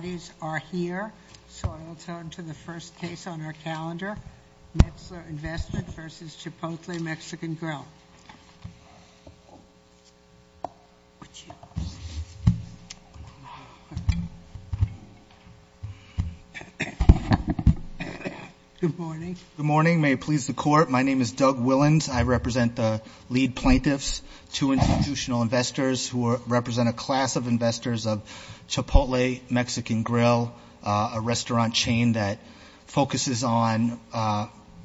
Good morning, may it please the Court. My name is Doug Willans. I represent the lead plaintiffs, two institutional investors who represent a class of investors of Chipotle Mexican Grill, a restaurant chain that focuses on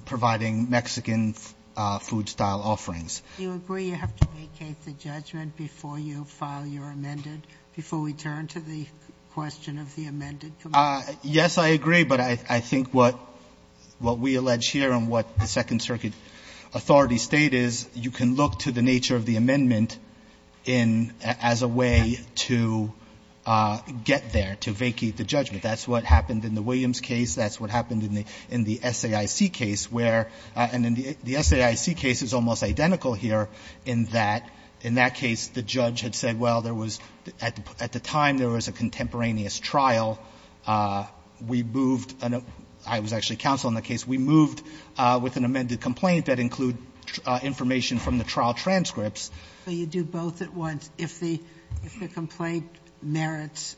providing Mexican food-style offerings. Do you agree you have to vacate the judgment before you file your amendment, before we turn to the question of the amended commandment? Yes, I agree, but I think what we allege here and what the Second Circuit Authority state is, you can look to the nature of the amendment as a way to get there, to vacate the judgment. That's what happened in the Williams case. That's what happened in the SAIC case, where — and the SAIC case is almost identical here in that, in that case, the judge had said, well, there was — at the time, there was a contemporaneous trial. We moved — I was actually counsel in that case. We moved with an amended complaint that included information from the trial transcripts. So you do both at once. If the complaint merits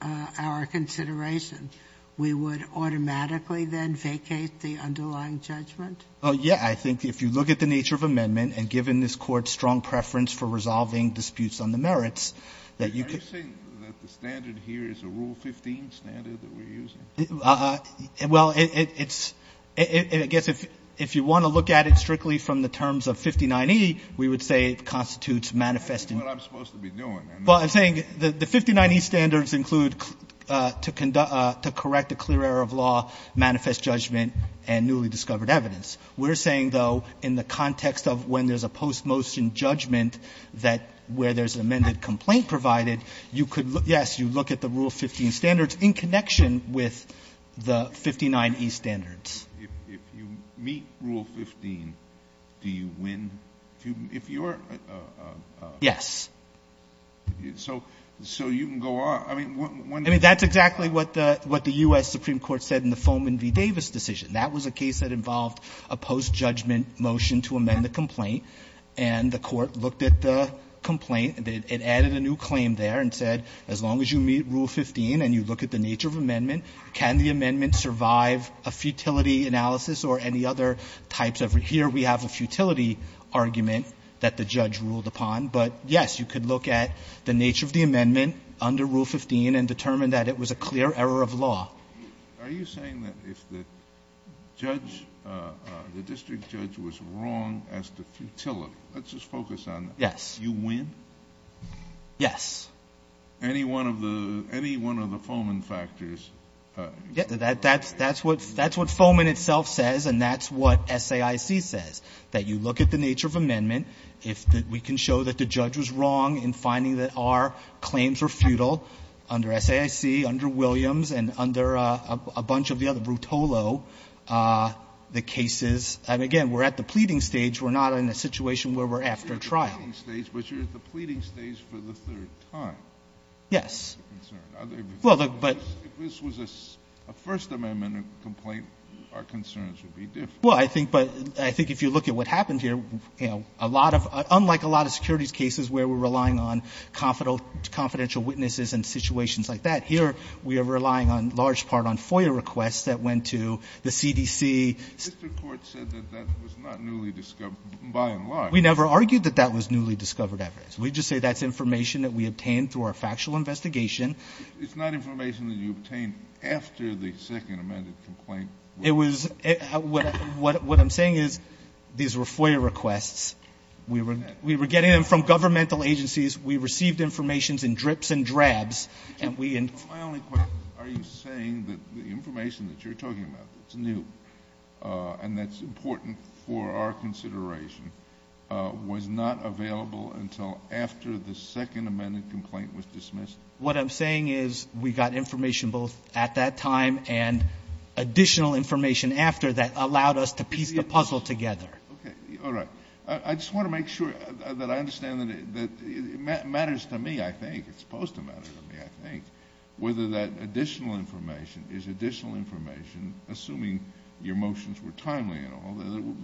our consideration, we would automatically then vacate the underlying judgment? Oh, yeah. I think if you look at the nature of amendment and, given this Court's strong preference for resolving disputes on the merits, that you could — Are you saying that the standard here is a Rule 15 standard that we're using? Well, it's — I guess if you want to look at it strictly from the terms of 59E, we would say it constitutes manifesting — That's what I'm supposed to be doing. Well, I'm saying the 59E standards include to correct a clear error of law, manifest judgment, and newly discovered evidence. We're saying, though, in the context of when there's a postmotion judgment that — where there's an amended complaint provided, you could — yes, you look at the Rule 15 standards in connection with the 59E standards. If you meet Rule 15, do you win? If you're — Yes. So you can go on. I mean, when — I mean, that's exactly what the U.S. Supreme Court said in the Foman v. Davis decision. That was a case that involved a post-judgment motion to amend the complaint. And the Court looked at the complaint, and it added a new claim there and said, as long as you meet Rule 15 and you look at the nature of amendment, can the amendment survive a futility analysis or any other types of — here we have a futility argument that the judge ruled upon, but, yes, you could look at the nature of the amendment under Rule 15 and determine that it was a clear error of law. Are you saying that if the judge — the district judge was wrong as to futility — let's just focus on that. Yes. You win? Yes. Any one of the — any one of the Foman factors? That's what Foman itself says, and that's what SAIC says, that you look at the nature of amendment. If we can show that the judge was wrong in finding that our claims were futile under SAIC, under Williams, and under a bunch of the other — Brutolo, the cases — and, again, we're at the pleading stage. We're not in a situation where we're after trial. You're not at the pleading stage, but you're at the pleading stage for the third time. Yes. This was a First Amendment complaint. Our concerns would be different. Well, I think — but I think if you look at what happened here, you know, a lot of — unlike a lot of securities cases where we're relying on confidential witnesses and situations like that, here we are relying on — large part on FOIA requests that went to the CDC. The district court said that that was not newly discovered, by and large. We never argued that that was newly discovered evidence. We just say that's information that we obtained through our factual investigation. It's not information that you obtained after the Second Amendment complaint. It was — what I'm saying is these were FOIA requests. We were — we were getting them from governmental agencies. We received information in drips and drabs, and we — My only question is, are you saying that the information that you're talking about that's new, and that's important for our consideration, was not available until after the Second Amendment complaint was dismissed? What I'm saying is we got information both at that time and additional information after that allowed us to piece the puzzle together. Okay. All right. I just want to make sure that I understand that it matters to me, I think. It's supposed to matter to me, I think, whether that additional information is additional information, assuming your motions were timely and all,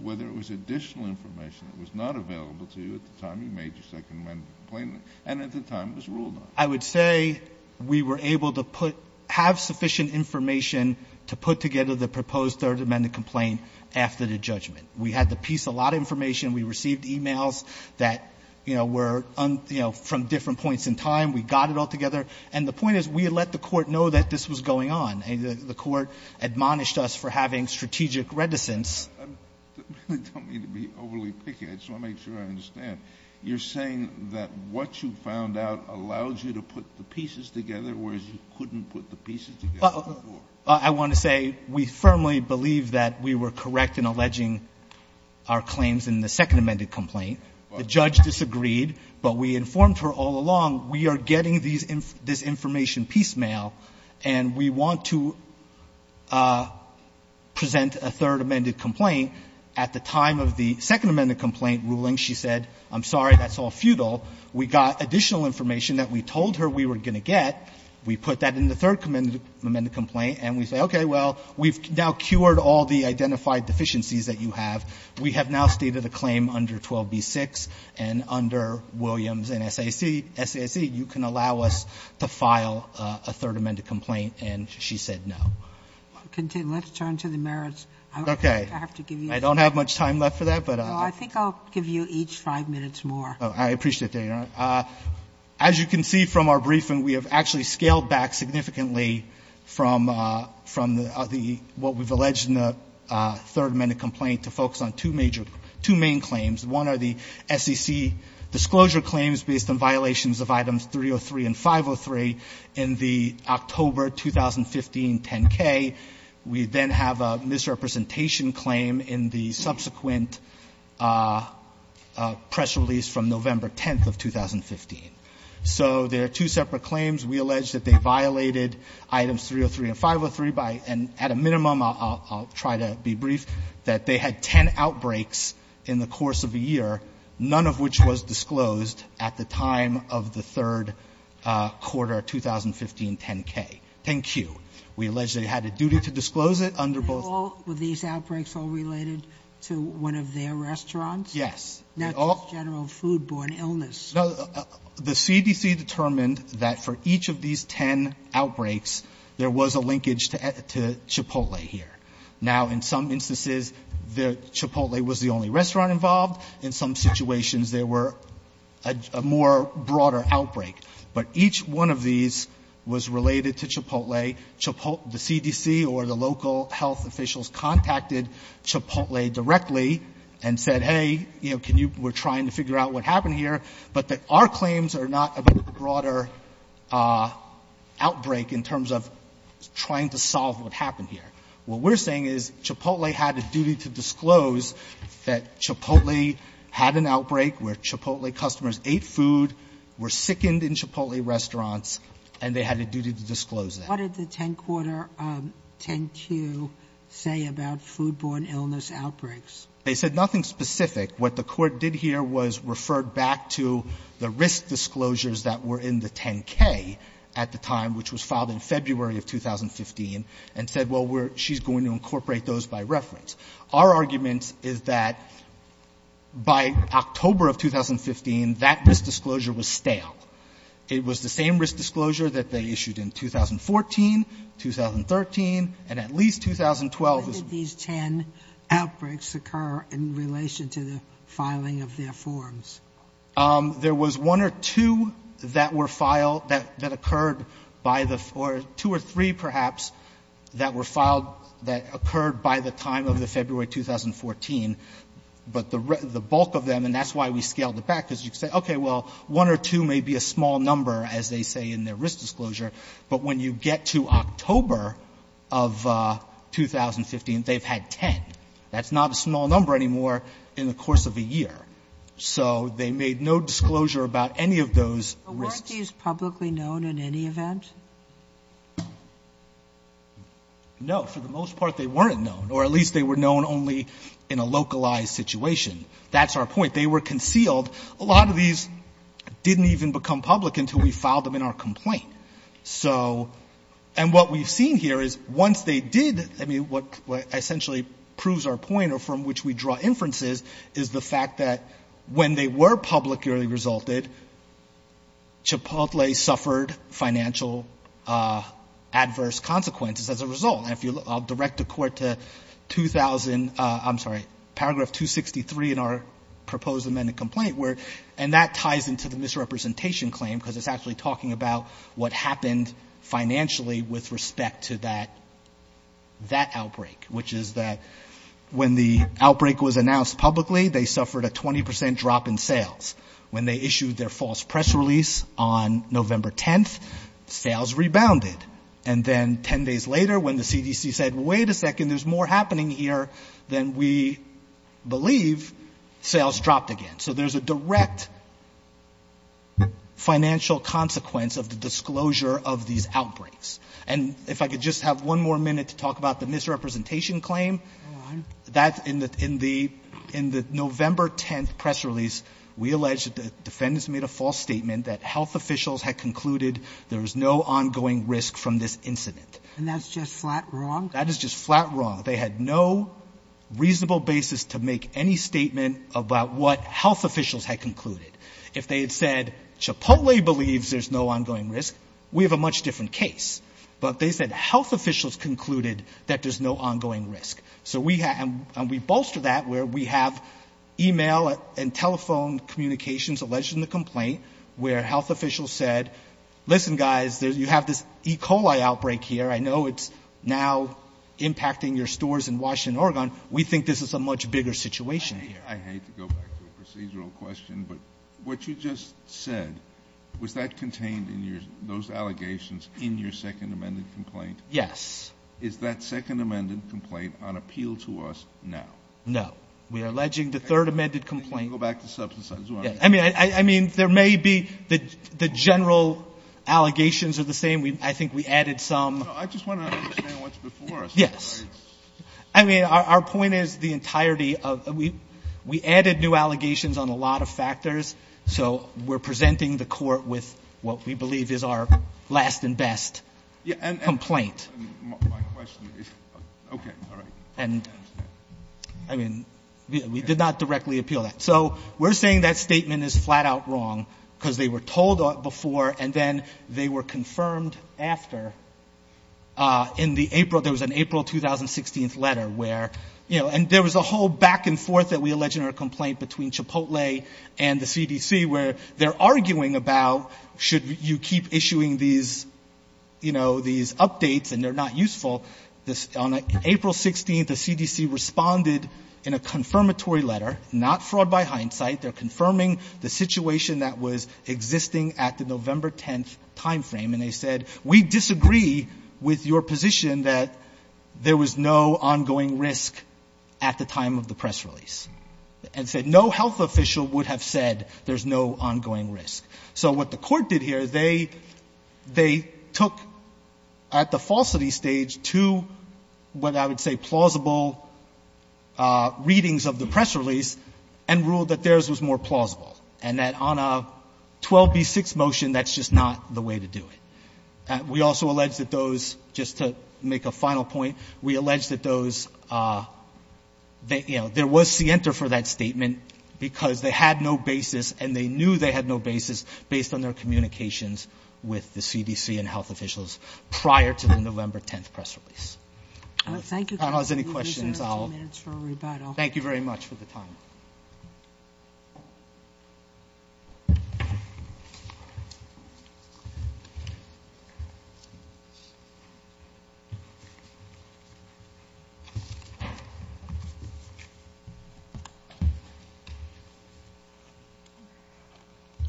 whether it was additional information that was not available to you at the time you made your Second Amendment complaint and at the time it was ruled on. I would say we were able to put — have sufficient information to put together the proposed Third Amendment complaint after the judgment. We had to piece a lot of information. We received e-mails that, you know, were, you know, from different points in time. We got it all together. And the point is, we let the Court know that this was going on. The Court admonished us for having strategic reticence. I really don't mean to be overly picky. I just want to make sure I understand. You're saying that what you found out allowed you to put the pieces together, whereas you couldn't put the pieces together before? I want to say we firmly believe that we were correct in alleging our claims in the Second Amendment complaint. The judge disagreed, but we informed her all along, we are getting this information piecemeal, and we want to present a Third Amendment complaint. At the time of the Second Amendment complaint ruling, she said, I'm sorry, that's all futile. We got additional information that we told her we were going to get. We put that in the Third Amendment complaint, and we say, okay, well, we've now cured all the identified deficiencies that you have. We have now stated a claim under 12b-6 and under Williams and SAC. You can allow us to file a Third Amendment complaint, and she said no. Sotomayor, let's turn to the merits. I have to give you a minute. I don't have much time left for that, but I'll give you each five minutes more. I appreciate that, Your Honor. As you can see from our briefing, we have actually scaled back significantly from the other, what we've alleged in the Third Amendment complaint to focus on two major, two main claims. One are the SEC disclosure claims based on violations of items 303 and 503 in the October 2015 10-K. We then have a misrepresentation claim in the subsequent press release from November 10th of 2015. So there are two separate claims. We allege that they violated items 303 and 503, and at a minimum, I'll try to be brief, that they had 10 outbreaks in the course of a year, none of which was disclosed at the time of the third quarter of 2015 10-K, 10-Q. We allege they had a duty to disclose it under both. Were these outbreaks all related to one of their restaurants? Yes. Not just general food-borne illness. The CDC determined that for each of these 10 outbreaks, there was a linkage to Chipotle here. Now, in some instances, Chipotle was the only restaurant involved. In some situations, there were a more broader outbreak. But each one of these was related to Chipotle. The CDC or the local health officials contacted Chipotle directly and said, hey, we're trying to figure out what happened here, but that our claims are not about a broader outbreak in terms of trying to solve what happened here. What we're saying is Chipotle had a duty to disclose that Chipotle had an outbreak where Chipotle customers ate food, were sickened in Chipotle restaurants, and they had a duty to disclose it. What did the 10-Quarter 10-Q say about food-borne illness outbreaks? They said nothing specific. What the court did here was refer back to the risk disclosures that were in the 10-K at the time, which was filed in February of 2015, and said, well, we're going to incorporate those by reference. Our argument is that by October of 2015, that risk disclosure was stale. It was the same risk disclosure that they issued in 2014, 2013, and at least 2012. When did these 10 outbreaks occur in relation to the filing of their forms? There was one or two that were filed that occurred by the four, two or three, perhaps, that were filed that occurred by the time of the February 2014, but the bulk of them, and that's why we scaled it back, because you can say, okay, well, one or two may be a small number, as they say in their risk disclosure, but when you get to October of 2015, they've had 10. That's not a small number anymore in the course of a year. So they made no disclosure about any of those risks. But weren't these publicly known in any event? No. For the most part, they weren't known, or at least they were known only in a localized situation. That's our point. They were concealed. A lot of these didn't even become public until we filed them in our complaint. So, and what we've seen here is once they did, I mean, what essentially proves our point, or from which we draw inferences, is the fact that when they were publicly resulted, Chipotle suffered financial adverse consequences as a result. And if you look, I'll direct the court to 2000, I'm sorry, paragraph 263 in our proposed amended complaint, where, and that ties into the misrepresentation claim, because it's actually talking about what happened financially with respect to that outbreak, which is that when the outbreak was announced publicly, they suffered a 20% drop in sales. When they issued their false press release on November 10th, sales rebounded. And then 10 days later, when the CDC said, wait a second, there's more happening here than we believe, sales dropped again. So there's a direct financial consequence of the disclosure of these outbreaks. And if I could just have one more minute to talk about the misrepresentation claim. That, in the November 10th press release, we allege that the defendants made a false statement that health officials had concluded there was no ongoing risk from this incident. And that's just flat wrong? That is just flat wrong. They had no reasonable basis to make any statement about what health officials had concluded. If they had said, Chipotle believes there's no ongoing risk, we have a much different case. But they said health officials concluded that there's no ongoing risk. So we have, and we bolster that where we have email and telephone communications alleging the complaint, where health officials said, listen, guys, you have this E. coli outbreak here. I know it's now impacting your stores in Washington, Oregon. We think this is a much bigger situation here. I hate to go back to a procedural question, but what you just said, was that contained in your, those allegations in your second amended complaint? Yes. Is that second amended complaint on appeal to us now? No. We are alleging the third amended complaint. I think you can go back to substance. I mean, I mean, there may be, the general allegations are the same. We, I think we added some. No, I just want to understand what's before us. Yes. I mean, our point is the entirety of, we added new allegations on a lot of factors. So we're presenting the court with what we believe is our last and best complaint. And my question is, okay, all right. And I mean, we did not directly appeal that. So we're saying that statement is flat out wrong because they were told before and then they were confirmed after in the April, there was an April 2016th letter where, you know, and there was a whole back and forth that we alleged in our complaint between Chipotle and the CDC where they're arguing about, should you keep issuing these, you know, these updates and they're not useful. This, on April 16th, the CDC responded in a confirmatory letter, not fraud by hindsight. They're confirming the situation that was existing at the November 10th timeframe. And they said, we disagree with your position that there was no ongoing risk at the time of the press release and said no health official would have said there's no ongoing risk. So what the court did here, they took at the falsity stage to what I would say plausible readings of the press release and ruled that theirs was more plausible and that on a 12B6 motion that's just not the way to do it. We also alleged that those, just to make a final point, we alleged that those, you know, there was scienter for that statement because they had no basis and they knew they had no basis based on their communications with the CDC and health officials prior to the November 10th press release. I don't know if there's any questions. I'll, thank you very much for the time.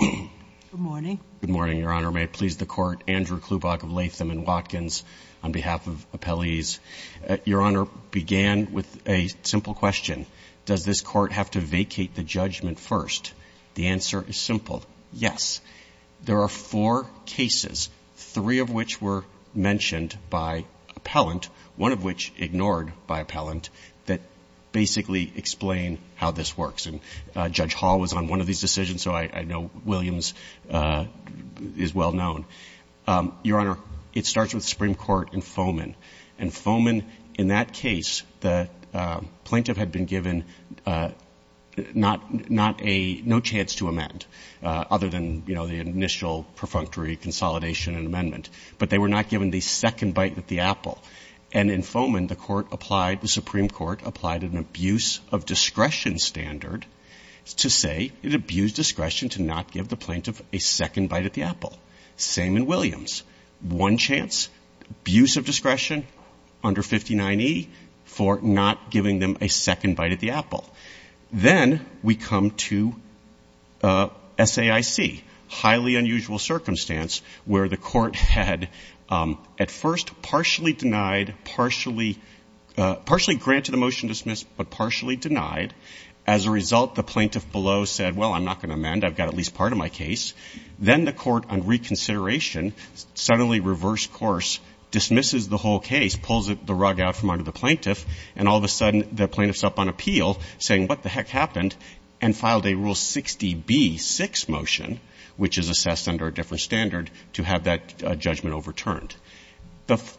Good morning. Good morning, Your Honor. May it please the court. Andrew Klubach of Latham and Watkins on behalf of appellees. Your Honor, began with a simple question. Does this court have to vacate the judgment first? The answer is simple. Yes. There are four cases, three of which were mentioned by appellant. One of which is the one that I'm going to talk about today. Two of which ignored by appellant that basically explain how this works. And Judge Hall was on one of these decisions, so I know Williams is well known. Your Honor, it starts with Supreme Court and Fomen. And Fomen, in that case, the plaintiff had been given not a, no chance to amend other than, you know, the initial perfunctory consolidation and amendment. And in Fomen, the court applied, the Supreme Court applied an abuse of discretion standard to say it abused discretion to not give the plaintiff a second bite at the apple. Same in Williams. One chance, abuse of discretion under 59E for not giving them a second bite at the apple. Then we come to SAIC, highly unusual circumstance, where the court had at first partially denied, partially granted a motion to dismiss, but partially denied. As a result, the plaintiff below said, well, I'm not going to amend, I've got at least part of my case. Then the court, on reconsideration, suddenly reverse course, dismisses the whole case, pulls the rug out from under the plaintiff. And all of a sudden, the plaintiff's up on appeal saying, what the heck happened? And filed a Rule 60B6 motion, which is assessed under a different standard, to have that judgment overturned.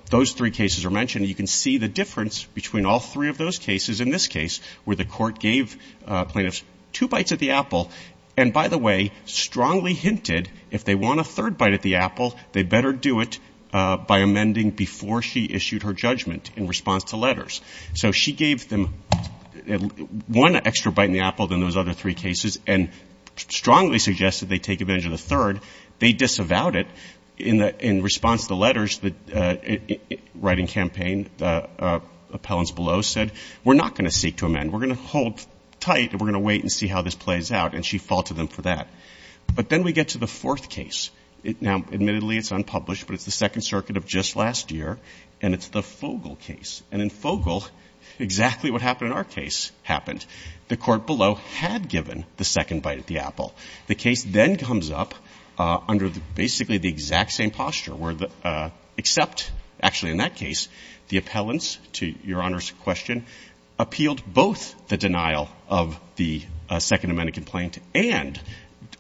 Those three cases are mentioned. You can see the difference between all three of those cases. In this case, where the court gave plaintiffs two bites at the apple, and by the way, strongly hinted if they want a third bite at the apple, they better do it by amending before she issued her judgment in response to letters. So she gave them one extra bite in the apple than those other three cases, and strongly suggested they take advantage of the third. They disavowed it in response to the letters, the writing campaign, the appellants below said, we're not going to seek to amend. We're going to hold tight, and we're going to wait and see how this plays out, and she faulted them for that. But then we get to the fourth case. Now, admittedly, it's unpublished, but it's the Second Circuit of just last year, and it's the Fogel case. And in Fogel, exactly what happened in our case happened. The court below had given the second bite at the apple. The case then comes up under basically the exact same posture, where except, actually in that case, the appellants to Your Honor's question appealed both the denial of the Second Amendment complaint and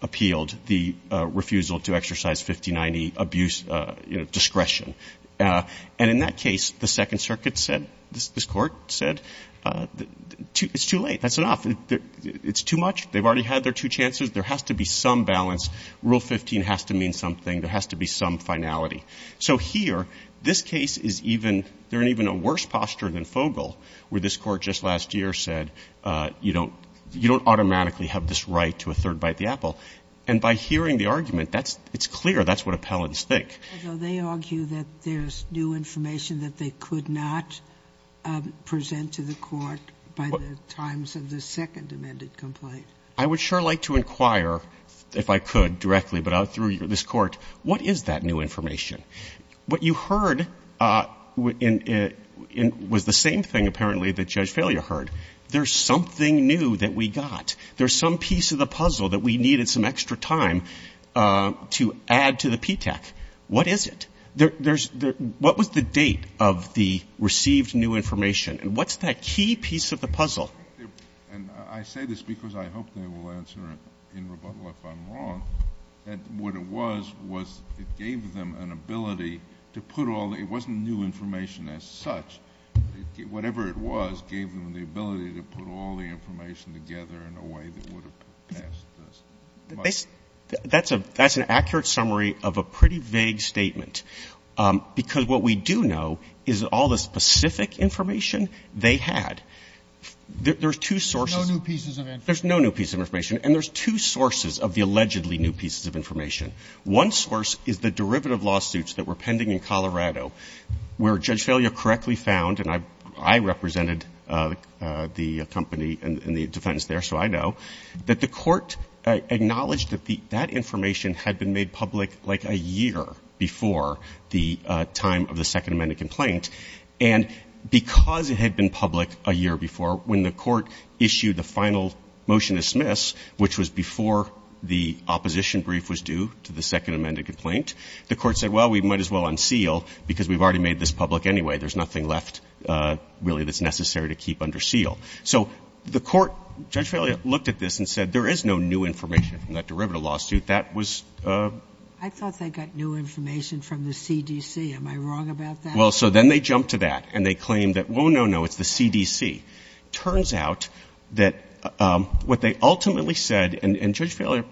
appealed the refusal to exercise 50-90 abuse discretion. And in that case, the Second Circuit said, this court said, it's too late, that's enough, it's too much. They've already had their two chances. There has to be some balance. Rule 15 has to mean something. There has to be some finality. So here, this case is even – they're in even a worse posture than Fogel, where this Court just last year said, you don't automatically have this right to a third bite at the apple. And by hearing the argument, that's – it's clear that's what appellants think. Sotomayor, they argue that there's new information that they could not present to the Court by the times of the Second Amendment complaint. I would sure like to inquire, if I could, directly, but out through this Court, what is that new information? What you heard was the same thing, apparently, that Judge Failure heard. There's something new that we got. There's some piece of the puzzle that we needed some extra time to add to the PTAC. What is it? There's – what was the date of the received new information? And what's that key piece of the puzzle? And I say this because I hope they will answer in rebuttal if I'm wrong, that what it was was it gave them an ability to put all – it wasn't new information as such. Whatever it was gave them the ability to put all the information together in a way that would have passed this. That's an accurate summary of a pretty vague statement, because what we do know is all the specific information they had. There's two sources. No new pieces of information. There's no new piece of information. And there's two sources of the allegedly new pieces of information. One source is the derivative lawsuits that were pending in Colorado, where Judge Failure correctly found – and I represented the company and the defense there, so I know – that the Court acknowledged that that information had been made public like a year before the time of the Second Amendment complaint. And because it had been public a year before, when the Court issued the final motion to dismiss, which was before the opposition brief was due to the Second Amendment complaint, the Court said, well, we might as well unseal, because we've already made this public anyway. There's nothing left, really, that's necessary to keep under seal. So the Court – Judge Failure looked at this and said there is no new information from that derivative lawsuit. That was – I thought they got new information from the CDC. Am I wrong about that? Well, so then they jumped to that and they claimed that, well, no, no, it's the CDC. Turns out that what they ultimately said – and Judge Failure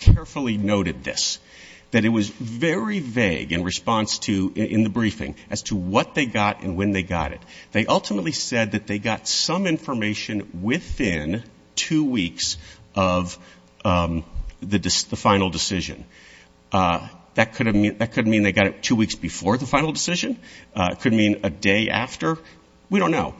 carefully noted this – that it was very vague in response to – in the briefing as to what they got and when they got it. They ultimately said that they got some information within two weeks of the final decision. That could mean they got it two weeks before the final decision, it could mean a day after. We don't know.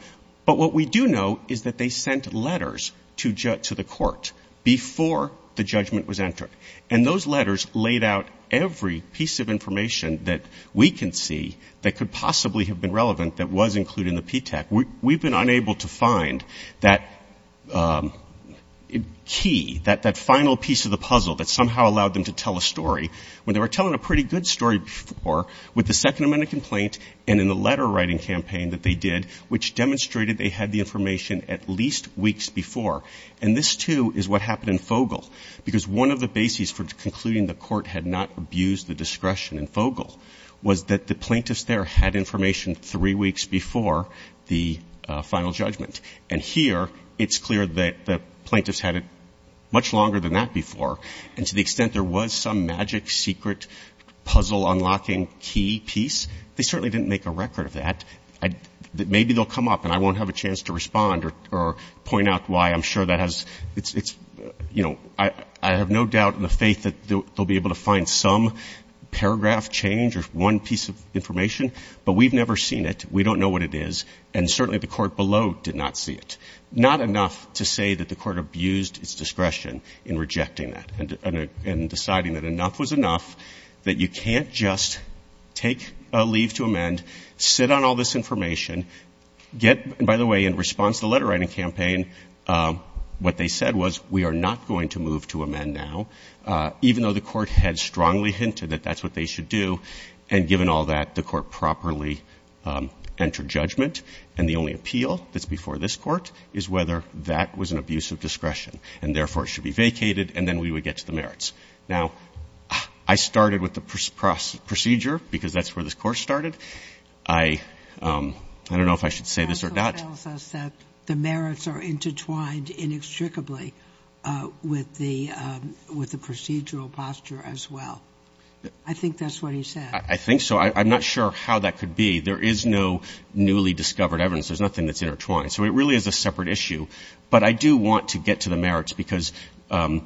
But what we do know is that they sent letters to the Court before the judgment was entered. And those letters laid out every piece of information that we can see that could possibly have been relevant that was included in the PTAC. We've been unable to find that key, that final piece of the puzzle that somehow allowed them to tell a story when they were telling a pretty good story before with the Second Amendment complaint and in the letter-writing campaign that they did, which demonstrated they had the information at least weeks before. And this, too, is what happened in Fogel, because one of the bases for concluding the Court had not abused the discretion in Fogel was that the plaintiffs there had information three weeks before the final judgment. And here, it's clear that the plaintiffs had it much longer than that before, and to the extent there was some magic, secret, puzzle-unlocking key piece, they certainly didn't make a record of that. Maybe they'll come up, and I won't have a chance to respond or point out why. I'm sure that has – it's – you know, I have no doubt in the faith that they'll be able to find some paragraph change or one piece of information. But we've never seen it. We don't know what it is. And certainly, the Court below did not see it. Not enough to say that the Court abused its discretion in rejecting that and deciding that enough was enough, that you can't just take a leave to amend, sit on all this information, get – and by the way, in response to the letter-writing campaign, what they said was we are not going to move to amend now, even though the Court had strongly hinted that that's what they should do. And given all that, the Court properly entered judgment, and the only appeal that's before this Court is whether that was an abuse of discretion, and therefore, it should be vacated, and then we would get to the merits. Now, I started with the procedure because that's where this Court started. I don't know if I should say this or not. The article tells us that the merits are intertwined inextricably with the procedural posture as well. I think that's what he said. I think so. I'm not sure how that could be. There is no newly discovered evidence. There's nothing that's intertwined. So it really is a separate issue. But I do want to get to the merits because – well,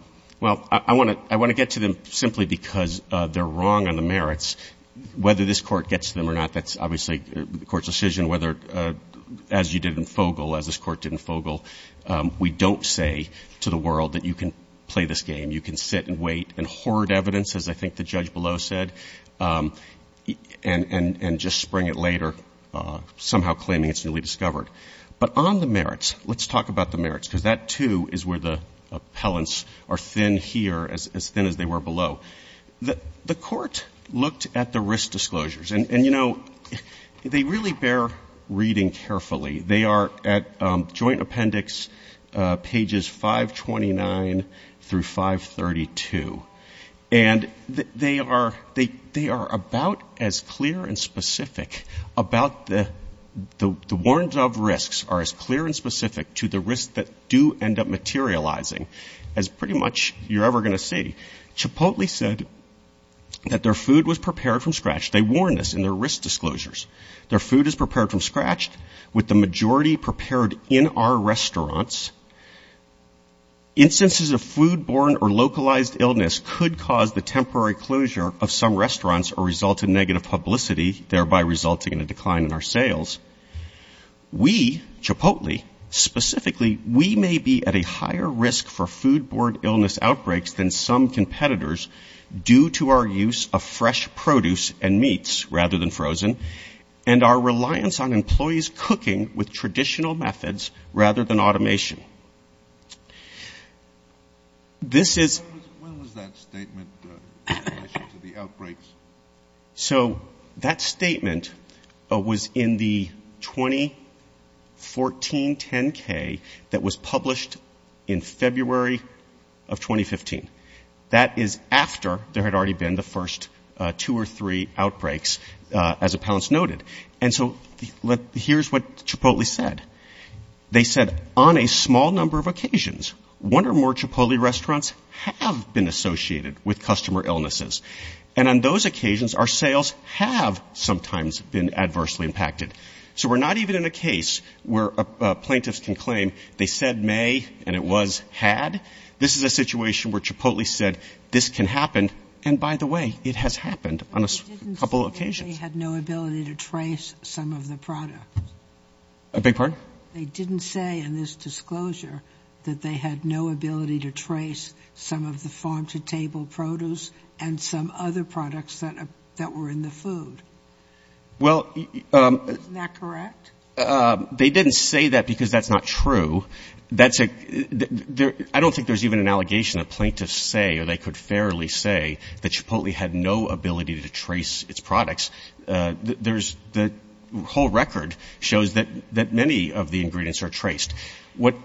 I want to get to them simply because they're wrong on the merits. Whether this Court gets them or not, that's obviously the Court's decision, whether – as you did in Fogel, as this Court did in Fogel, we don't say to the world that you can play this game. You can sit and wait and hoard evidence, as I think the judge below said, and just spring it later, somehow claiming it's newly discovered. But on the merits, let's talk about the merits because that, too, is where the appellants are thin here, as thin as they were below. The Court looked at the risk disclosures and, you know, they really bear reading carefully. They are at Joint Appendix pages 529 through 532. And they are about as clear and specific about the – the warrants of risks are as clear and specific to the risks that do end up materializing as pretty much you're ever going to see. Chipotle said that their food was prepared from scratch. They warn us in their risk disclosures. Their food is prepared from scratch with the majority prepared in our restaurants. Instances of foodborne or localized illness could cause the temporary closure of some restaurants or result in negative publicity, thereby resulting in a decline in our sales. We, Chipotle, specifically, we may be at a higher risk for foodborne illness outbreaks than some competitors due to our use of fresh produce and meats rather than frozen and our When was that statement in relation to the outbreaks? So that statement was in the 2014 10-K that was published in February of 2015. That is after there had already been the first two or three outbreaks, as appellants noted. And so here's what Chipotle said. They said on a small number of occasions, one or more Chipotle restaurants have been associated with customer illnesses. And on those occasions, our sales have sometimes been adversely impacted. So we're not even in a case where plaintiffs can claim they said may and it was had. This is a situation where Chipotle said this can happen. And by the way, it has happened on a couple of occasions. But you didn't say that they had no ability to trace some of the product. A big part? They didn't say in this disclosure that they had no ability to trace some of the farm-to-table produce and some other products that were in the food. Well. Isn't that correct? They didn't say that because that's not true. I don't think there's even an allegation a plaintiff say or they could fairly say that Chipotle had no ability to trace its products. The whole record shows that many of the ingredients are traced. What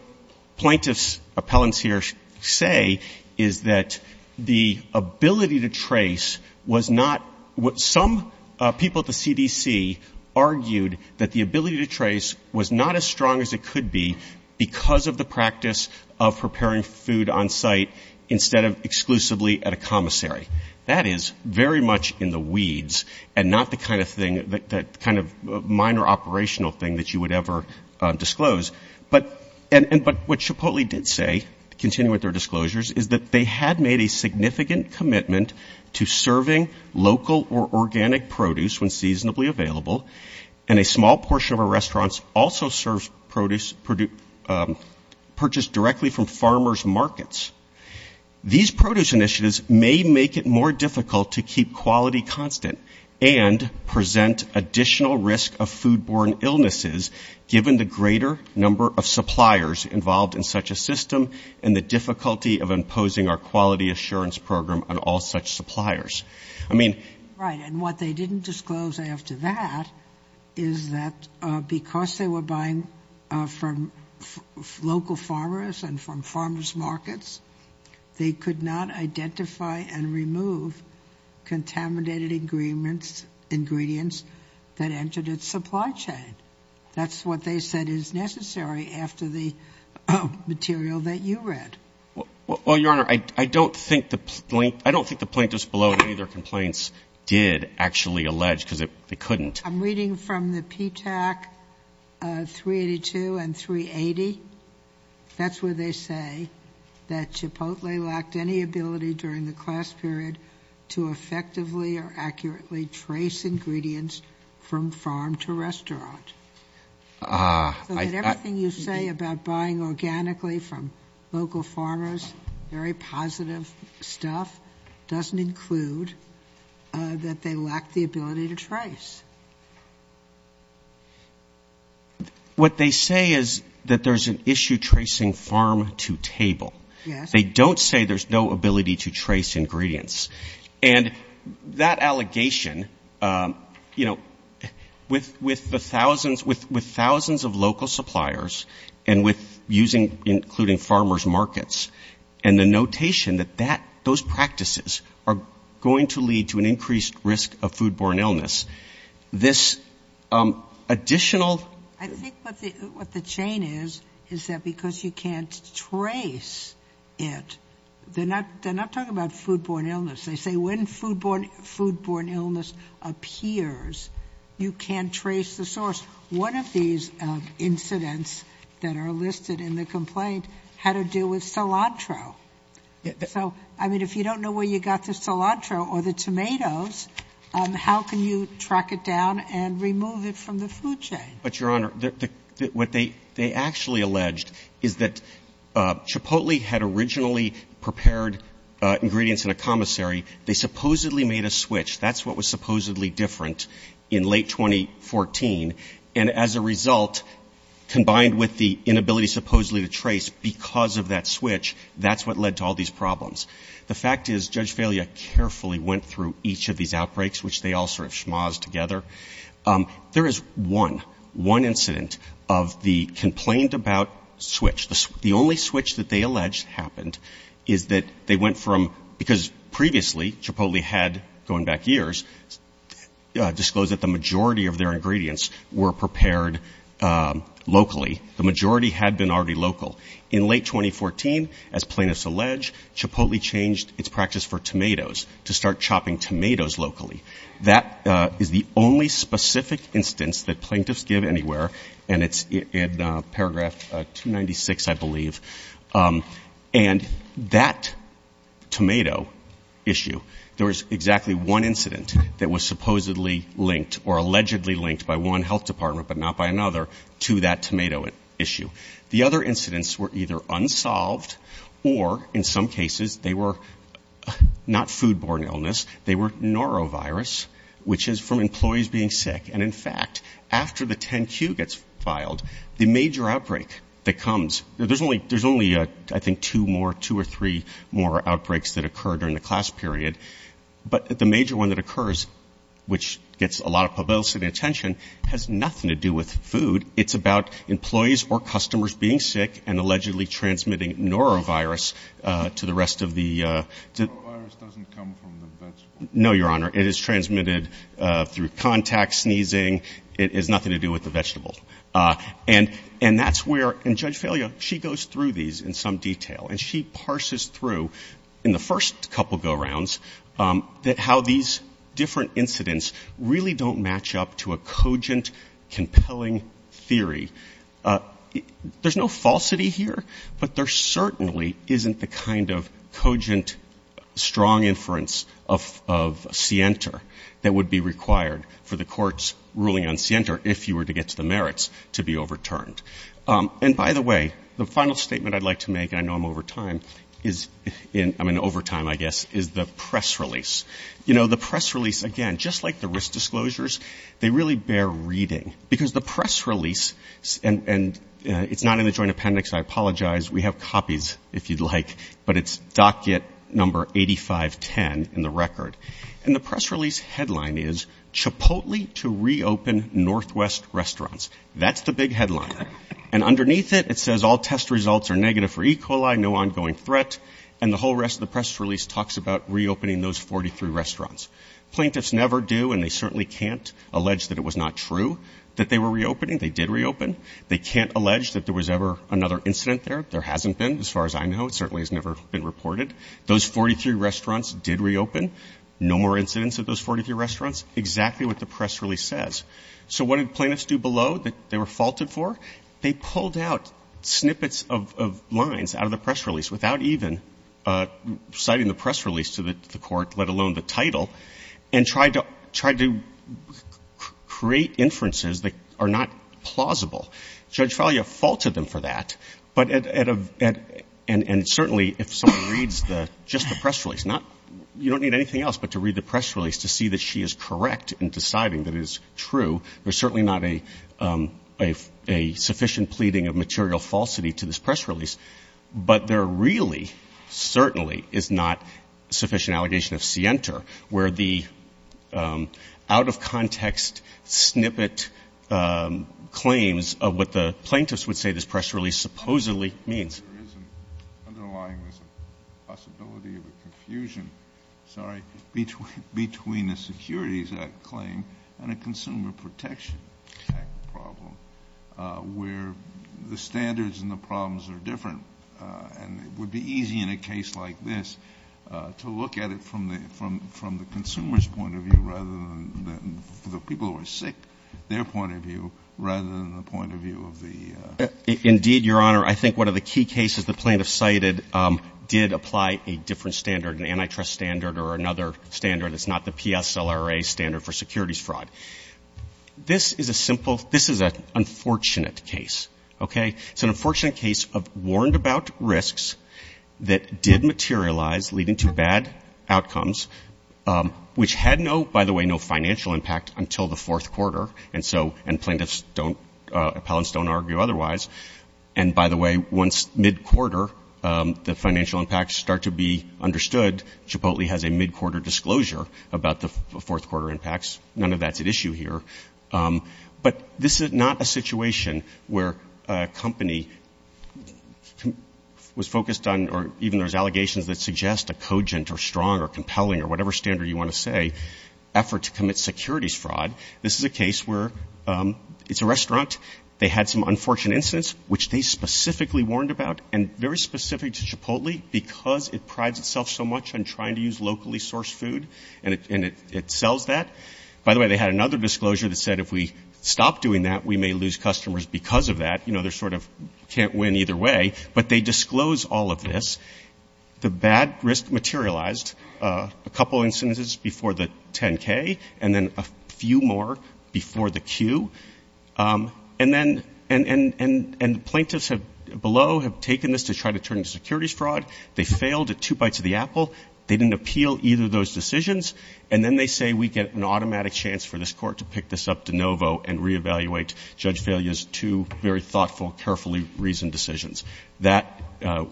plaintiffs' appellants here say is that the ability to trace was not what some people at the CDC argued that the ability to trace was not as strong as it could be because of the practice of preparing food on site instead of exclusively at a commissary. That is very much in the weeds and not the kind of thing, that kind of minor operational thing that you would ever disclose. But what Chipotle did say, to continue with their disclosures, is that they had made a significant commitment to serving local or organic produce when seasonably available, and a small portion of our restaurants also serve produce purchased directly from farmers' markets. These produce initiatives may make it more difficult to keep quality constant and present additional risk of foodborne illnesses, given the greater number of suppliers involved in such a system and the difficulty of imposing our quality assurance program on all such suppliers. I mean... Right. And what they didn't disclose after that is that because they were buying from local farmers and from farmers' markets, they could not identify and remove contaminated ingredients that entered its supply chain. That's what they said is necessary after the material that you read. Well, Your Honor, I don't think the plaintiffs below any of their complaints did actually allege, because they couldn't. I'm reading from the PTAC 382 and 380. That's where they say that Chipotle lacked any ability during the class period to effectively or accurately trace ingredients from farm to restaurant. So that everything you say about buying organically from local farmers, very positive stuff, doesn't include that they lacked the ability to trace. What they say is that there's an issue tracing farm to table. Yes. They don't say there's no ability to trace ingredients. And that allegation, you know, with thousands of local suppliers and with using, including farmers' markets, and the notation that those practices are going to lead to an increased risk of foodborne illness, this additional... I think what the chain is is that because you can't trace it, they're not talking about foodborne illness. They say when foodborne illness appears, you can't trace the source. One of these incidents that are listed in the complaint had to do with cilantro. So, I mean, if you don't know where you got the cilantro or the tomatoes, how can you track it down and remove it from the food chain? But, Your Honor, what they actually alleged is that Chipotle had originally prepared ingredients in a commissary. They supposedly made a switch. That's what was supposedly different in late 2014. And as a result, combined with the inability supposedly to trace because of that switch, that's what led to all these problems. The fact is Judge Velia carefully went through each of these outbreaks, which they all sort of schmozzed together. There is one, one incident of the complained about switch. The only switch that they alleged happened is that they went from, because previously Chipotle had, going back years, disclosed that the majority of their ingredients were prepared locally. The majority had been already local. In late 2014, as plaintiffs allege, Chipotle changed its practice for tomatoes to start chopping tomatoes locally. That is the only specific instance that plaintiffs give anywhere, and it's in paragraph 296, I believe. And that tomato issue, there was exactly one incident that was supposedly linked or allegedly linked by one health department but not by another to that tomato issue. The other incidents were either unsolved or, in some cases, they were not foodborne illness. They were norovirus, which is from employees being sick. And, in fact, after the 10-Q gets filed, the major outbreak that comes, there's only, I think, two more, two or three more outbreaks that occur during the class period. But the major one that occurs, which gets a lot of publicity and attention, has nothing to do with food. It's about employees or customers being sick and allegedly transmitting norovirus to the rest of the ‑‑ Norovirus doesn't come from the vegetable. No, Your Honor. It is transmitted through contact, sneezing. It has nothing to do with the vegetable. And that's where ‑‑ and Judge Failio, she goes through these in some detail, and she parses through in the first couple go-rounds how these different incidents really don't match up to a cogent, compelling theory. There's no falsity here, but there certainly isn't the kind of cogent, strong inference of SIENTA that would be required for the court's ruling on SIENTA, if you were to get to the merits, to be overturned. And, by the way, the final statement I'd like to make, and I know I'm over time, is in ‑‑ I mean, over time, I guess, is the press release. You know, the press release, again, just like the risk disclosures, they really bear reading. Because the press release, and it's not in the joint appendix, I apologize. We have copies, if you'd like. But it's docket number 8510 in the record. And the press release headline is, Chipotle to reopen Northwest restaurants. That's the big headline. And underneath it, it says all test results are negative for E. coli, no ongoing threat. And the whole rest of the press release talks about reopening those 43 restaurants. Plaintiffs never do, and they certainly can't allege that it was not true that they were reopening. They did reopen. They can't allege that there was ever another incident there. There hasn't been, as far as I know. It certainly has never been reported. Those 43 restaurants did reopen. No more incidents at those 43 restaurants. Exactly what the press release says. So what did plaintiffs do below that they were faulted for? They pulled out snippets of lines out of the press release without even citing the press release to the court, let alone the title, and tried to create inferences that are not plausible. Judge Fallia faulted them for that. And certainly, if someone reads just the press release, you don't need anything else but to read the press release to see that she is correct in deciding that it is true. There's certainly not a sufficient pleading of material falsity to this press release, but there really certainly is not a sufficient allegation of scienter, where the out-of-context snippet claims of what the plaintiffs would say this press release supposedly means. There is an underlying possibility of a confusion, sorry, between a Securities Act claim and a Consumer Protection Act problem, where the standards and the problems are different. And it would be easy in a case like this to look at it from the consumer's point of view, rather than the people who are sick, their point of view, rather than the point of view of the. Indeed, Your Honor, I think one of the key cases the plaintiff cited did apply a different standard, an antitrust standard or another standard that's not the PSLRA standard for securities fraud. This is a simple, this is an unfortunate case. Okay. It's an unfortunate case of warned about risks that did materialize, leading to bad outcomes, which had no, by the way, no financial impact until the fourth quarter. And so, and plaintiffs don't, appellants don't argue otherwise. And by the way, once mid-quarter, the financial impacts start to be understood, Chipotle has a mid-quarter disclosure about the fourth quarter impacts. None of that's at issue here. But this is not a situation where a company was focused on, or even there's allegations that suggest a cogent or strong or compelling or whatever standard you want to say, effort to commit securities fraud. This is a case where it's a restaurant. They had some unfortunate incidents, which they specifically warned about and very specific to Chipotle because it prides itself so much on trying to use locally sourced food, and it sells that. By the way, they had another disclosure that said if we stop doing that, we may lose customers because of that. You know, they're sort of can't win either way. But they disclose all of this. The bad risk materialized. A couple of instances before the 10-K and then a few more before the Q. And then, and plaintiffs below have taken this to try to turn to securities fraud. They failed at two bites of the apple. They didn't appeal either of those decisions. And then they say we get an automatic chance for this court to pick this up de novo and reevaluate Judge Velia's two very thoughtful, carefully reasoned decisions. That,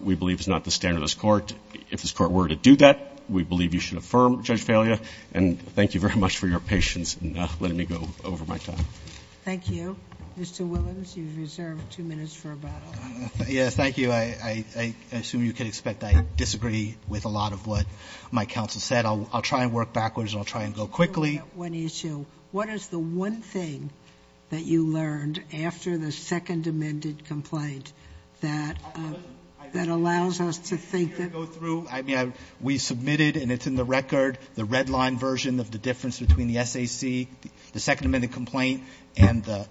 we believe, is not the standard of this court. If this court were to do that, we believe you should affirm Judge Velia. And thank you very much for your patience in letting me go over my time. Thank you. Mr. Willans, you've reserved two minutes for rebuttal. Yes, thank you. I assume you can expect I disagree with a lot of what my counsel said. I'll try and work backwards, and I'll try and go quickly. I have one issue. What is the one thing that you learned after the second amended complaint that allows us to think that we submitted, and it's in the record, the red line version of the difference between the SAC, the second amended complaint, and the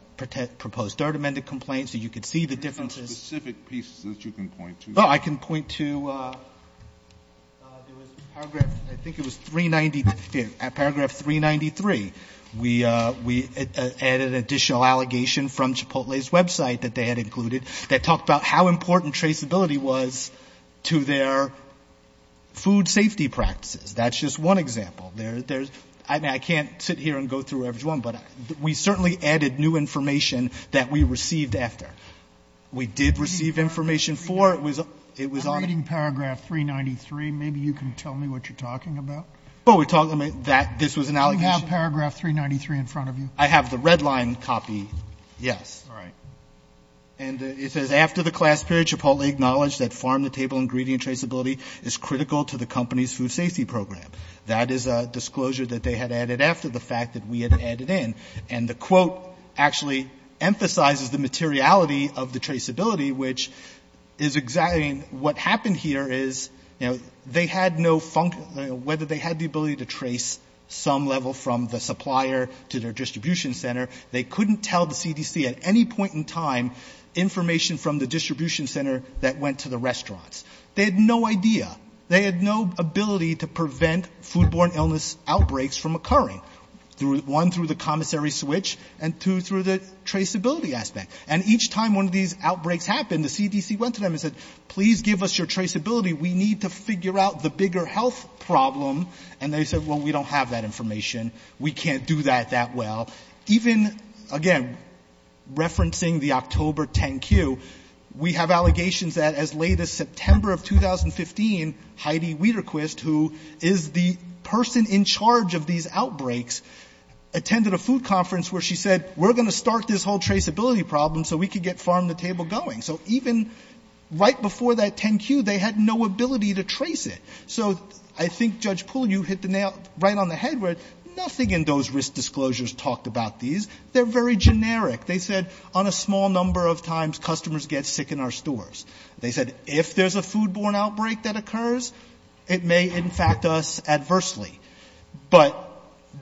proposed third amended complaint, so you could see the differences. There are specific pieces that you can point to. Oh, I can point to paragraph, I think it was 390, paragraph 393. We added an additional allegation from Chipotle's website that they had included that talked about how important traceability was to their food safety practices. That's just one example. I can't sit here and go through every one, but we certainly added new information that we received after. We did receive information for. I'm reading paragraph 393. Maybe you can tell me what you're talking about. This was an allegation. You have paragraph 393 in front of you. I have the red line copy, yes. All right. And it says, After the class period, Chipotle acknowledged that farm-to-table ingredient traceability is critical to the company's food safety program. That is a disclosure that they had added after the fact that we had added in. And the quote actually emphasizes the materiality of the traceability, which is exciting. What happened here is, you know, they had no function, whether they had the ability to trace some level from the supplier to their distribution center, they couldn't tell the CDC at any point in time information from the distribution center that went to the restaurants. They had no idea. They had no ability to prevent foodborne illness outbreaks from occurring, one, through the commissary switch, and two, through the traceability aspect. And each time one of these outbreaks happened, the CDC went to them and said, Please give us your traceability. We need to figure out the bigger health problem. And they said, Well, we don't have that information. We can't do that that well. Even, again, referencing the October 10Q, we have allegations that as late as September of 2015, Heidi Weterquist, who is the person in charge of these outbreaks, attended a food conference where she said, We're going to start this whole traceability problem so we can get Farm to Table going. So even right before that 10Q, they had no ability to trace it. So I think, Judge Poole, you hit the nail right on the head, where nothing in those risk disclosures talked about these. They're very generic. They said, On a small number of times, customers get sick in our stores. They said, If there's a food-borne outbreak that occurs, it may infect us adversely. But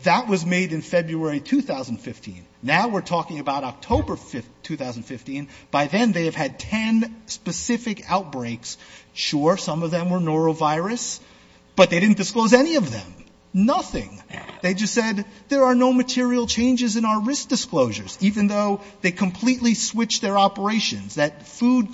that was made in February 2015. Now we're talking about October 2015. By then, they have had 10 specific outbreaks. Sure, some of them were norovirus, but they didn't disclose any of them. Nothing. They just said, There are no material changes in our risk disclosures, even though they completely switched their operations, that food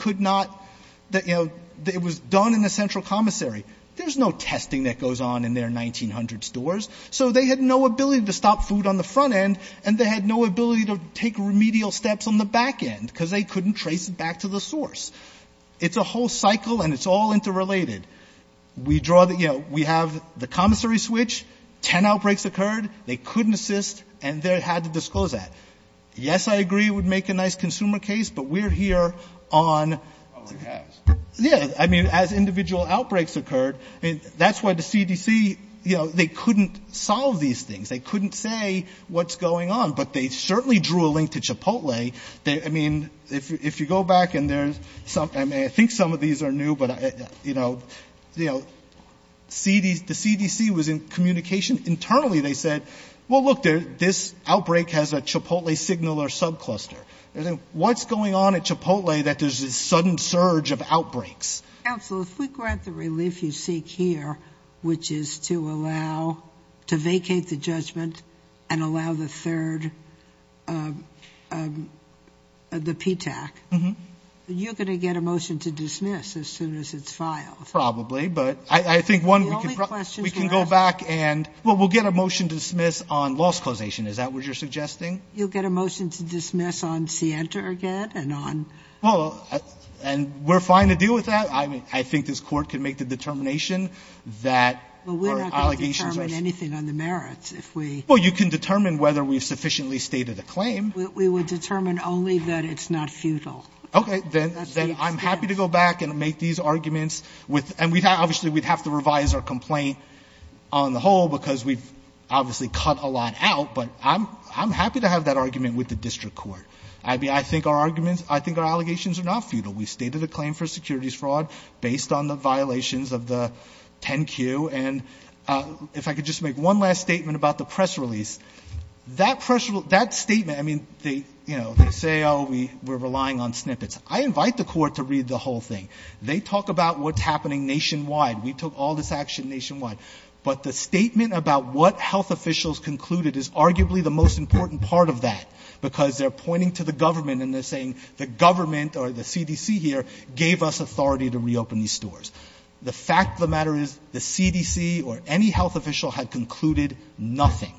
was done in the central commissary. There's no testing that goes on in their 1900 stores. So they had no ability to stop food on the front end, and they had no ability to take remedial steps on the back end, because they couldn't trace it back to the source. It's a whole cycle, and it's all interrelated. We have the commissary switch, 10 outbreaks occurred, they couldn't assist, and they had to disclose that. Yes, I agree it would make a nice consumer case, but we're here on... Yeah, I mean, as individual outbreaks occurred, that's why the CDC, you know, they couldn't solve these things. They couldn't say what's going on. But they certainly drew a link to Chipotle. I mean, if you go back, and I think some of these are new, but, you know, the CDC was in communication. Internally, they said, Well, look, this outbreak has a Chipotle signal or subcluster. What's going on at Chipotle that there's this sudden surge of outbreaks? Counsel, if we grant the relief you seek here, which is to allow, to vacate the judgment and allow the third, the PTAC, you're going to get a motion to dismiss as soon as it's filed. Probably, but I think, one, we can go back and, well, we'll get a motion to dismiss on loss causation. Is that what you're suggesting? You'll get a motion to dismiss on Sienta again and on... Well, and we're fine to deal with that. I mean, I think this Court can make the determination that our allegations are... Well, we're not going to determine anything on the merits if we... Well, you can determine whether we've sufficiently stated a claim. We would determine only that it's not futile. Okay, then I'm happy to go back and make these arguments with, and obviously we'd have to revise our complaint on the whole because we've obviously cut a lot out. But I'm happy to have that argument with the District Court. I mean, I think our arguments, I think our allegations are not futile. We've stated a claim for securities fraud based on the violations of the 10Q. And if I could just make one last statement about the press release. That press release, that statement, I mean, they say, oh, we're relying on snippets. I invite the Court to read the whole thing. They talk about what's happening nationwide. We took all this action nationwide. But the statement about what health officials concluded is arguably the most important part of that because they're pointing to the government and they're saying the government or the CDC here gave us authority to reopen these stores. The fact of the matter is the CDC or any health official had concluded nothing.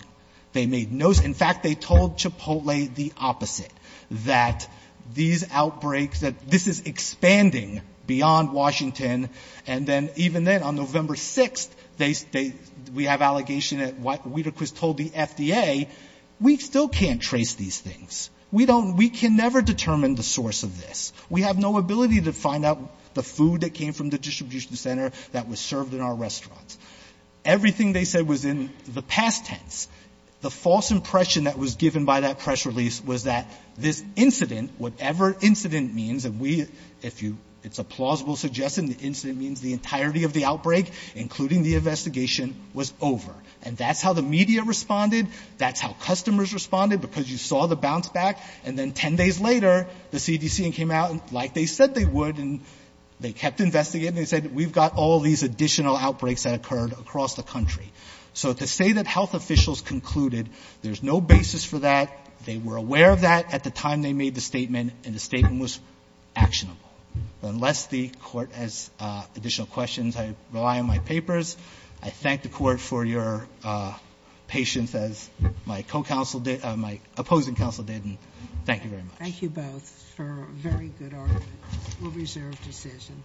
They made no... In fact, they told Chipotle the opposite, that these outbreaks, that this is expanding beyond Washington. And then even then, on November 6th, they... We have allegation that White... We were told the FDA, we still can't trace these things. We don't... We can never determine the source of this. We have no ability to find out the food that came from the distribution center that was served in our restaurants. Everything they said was in the past tense. The false impression that was given by that press release was that this incident, whatever incident means, and we, if it's a plausible suggestion, the incident means the entirety of the outbreak, including the investigation, was over. And that's how the media responded. That's how customers responded because you saw the bounce back. And then 10 days later, the CDC came out like they said they would and they kept investigating. They said, we've got all these additional outbreaks that occurred across the country. So to say that health officials concluded there's no basis for that, they were aware of that at the time they made the statement, and the statement was actionable. Unless the Court has additional questions, I rely on my papers. I thank the Court for your patience, as my opposing counsel did, and thank you very much. Thank you both for a very good argument. We'll reserve decision.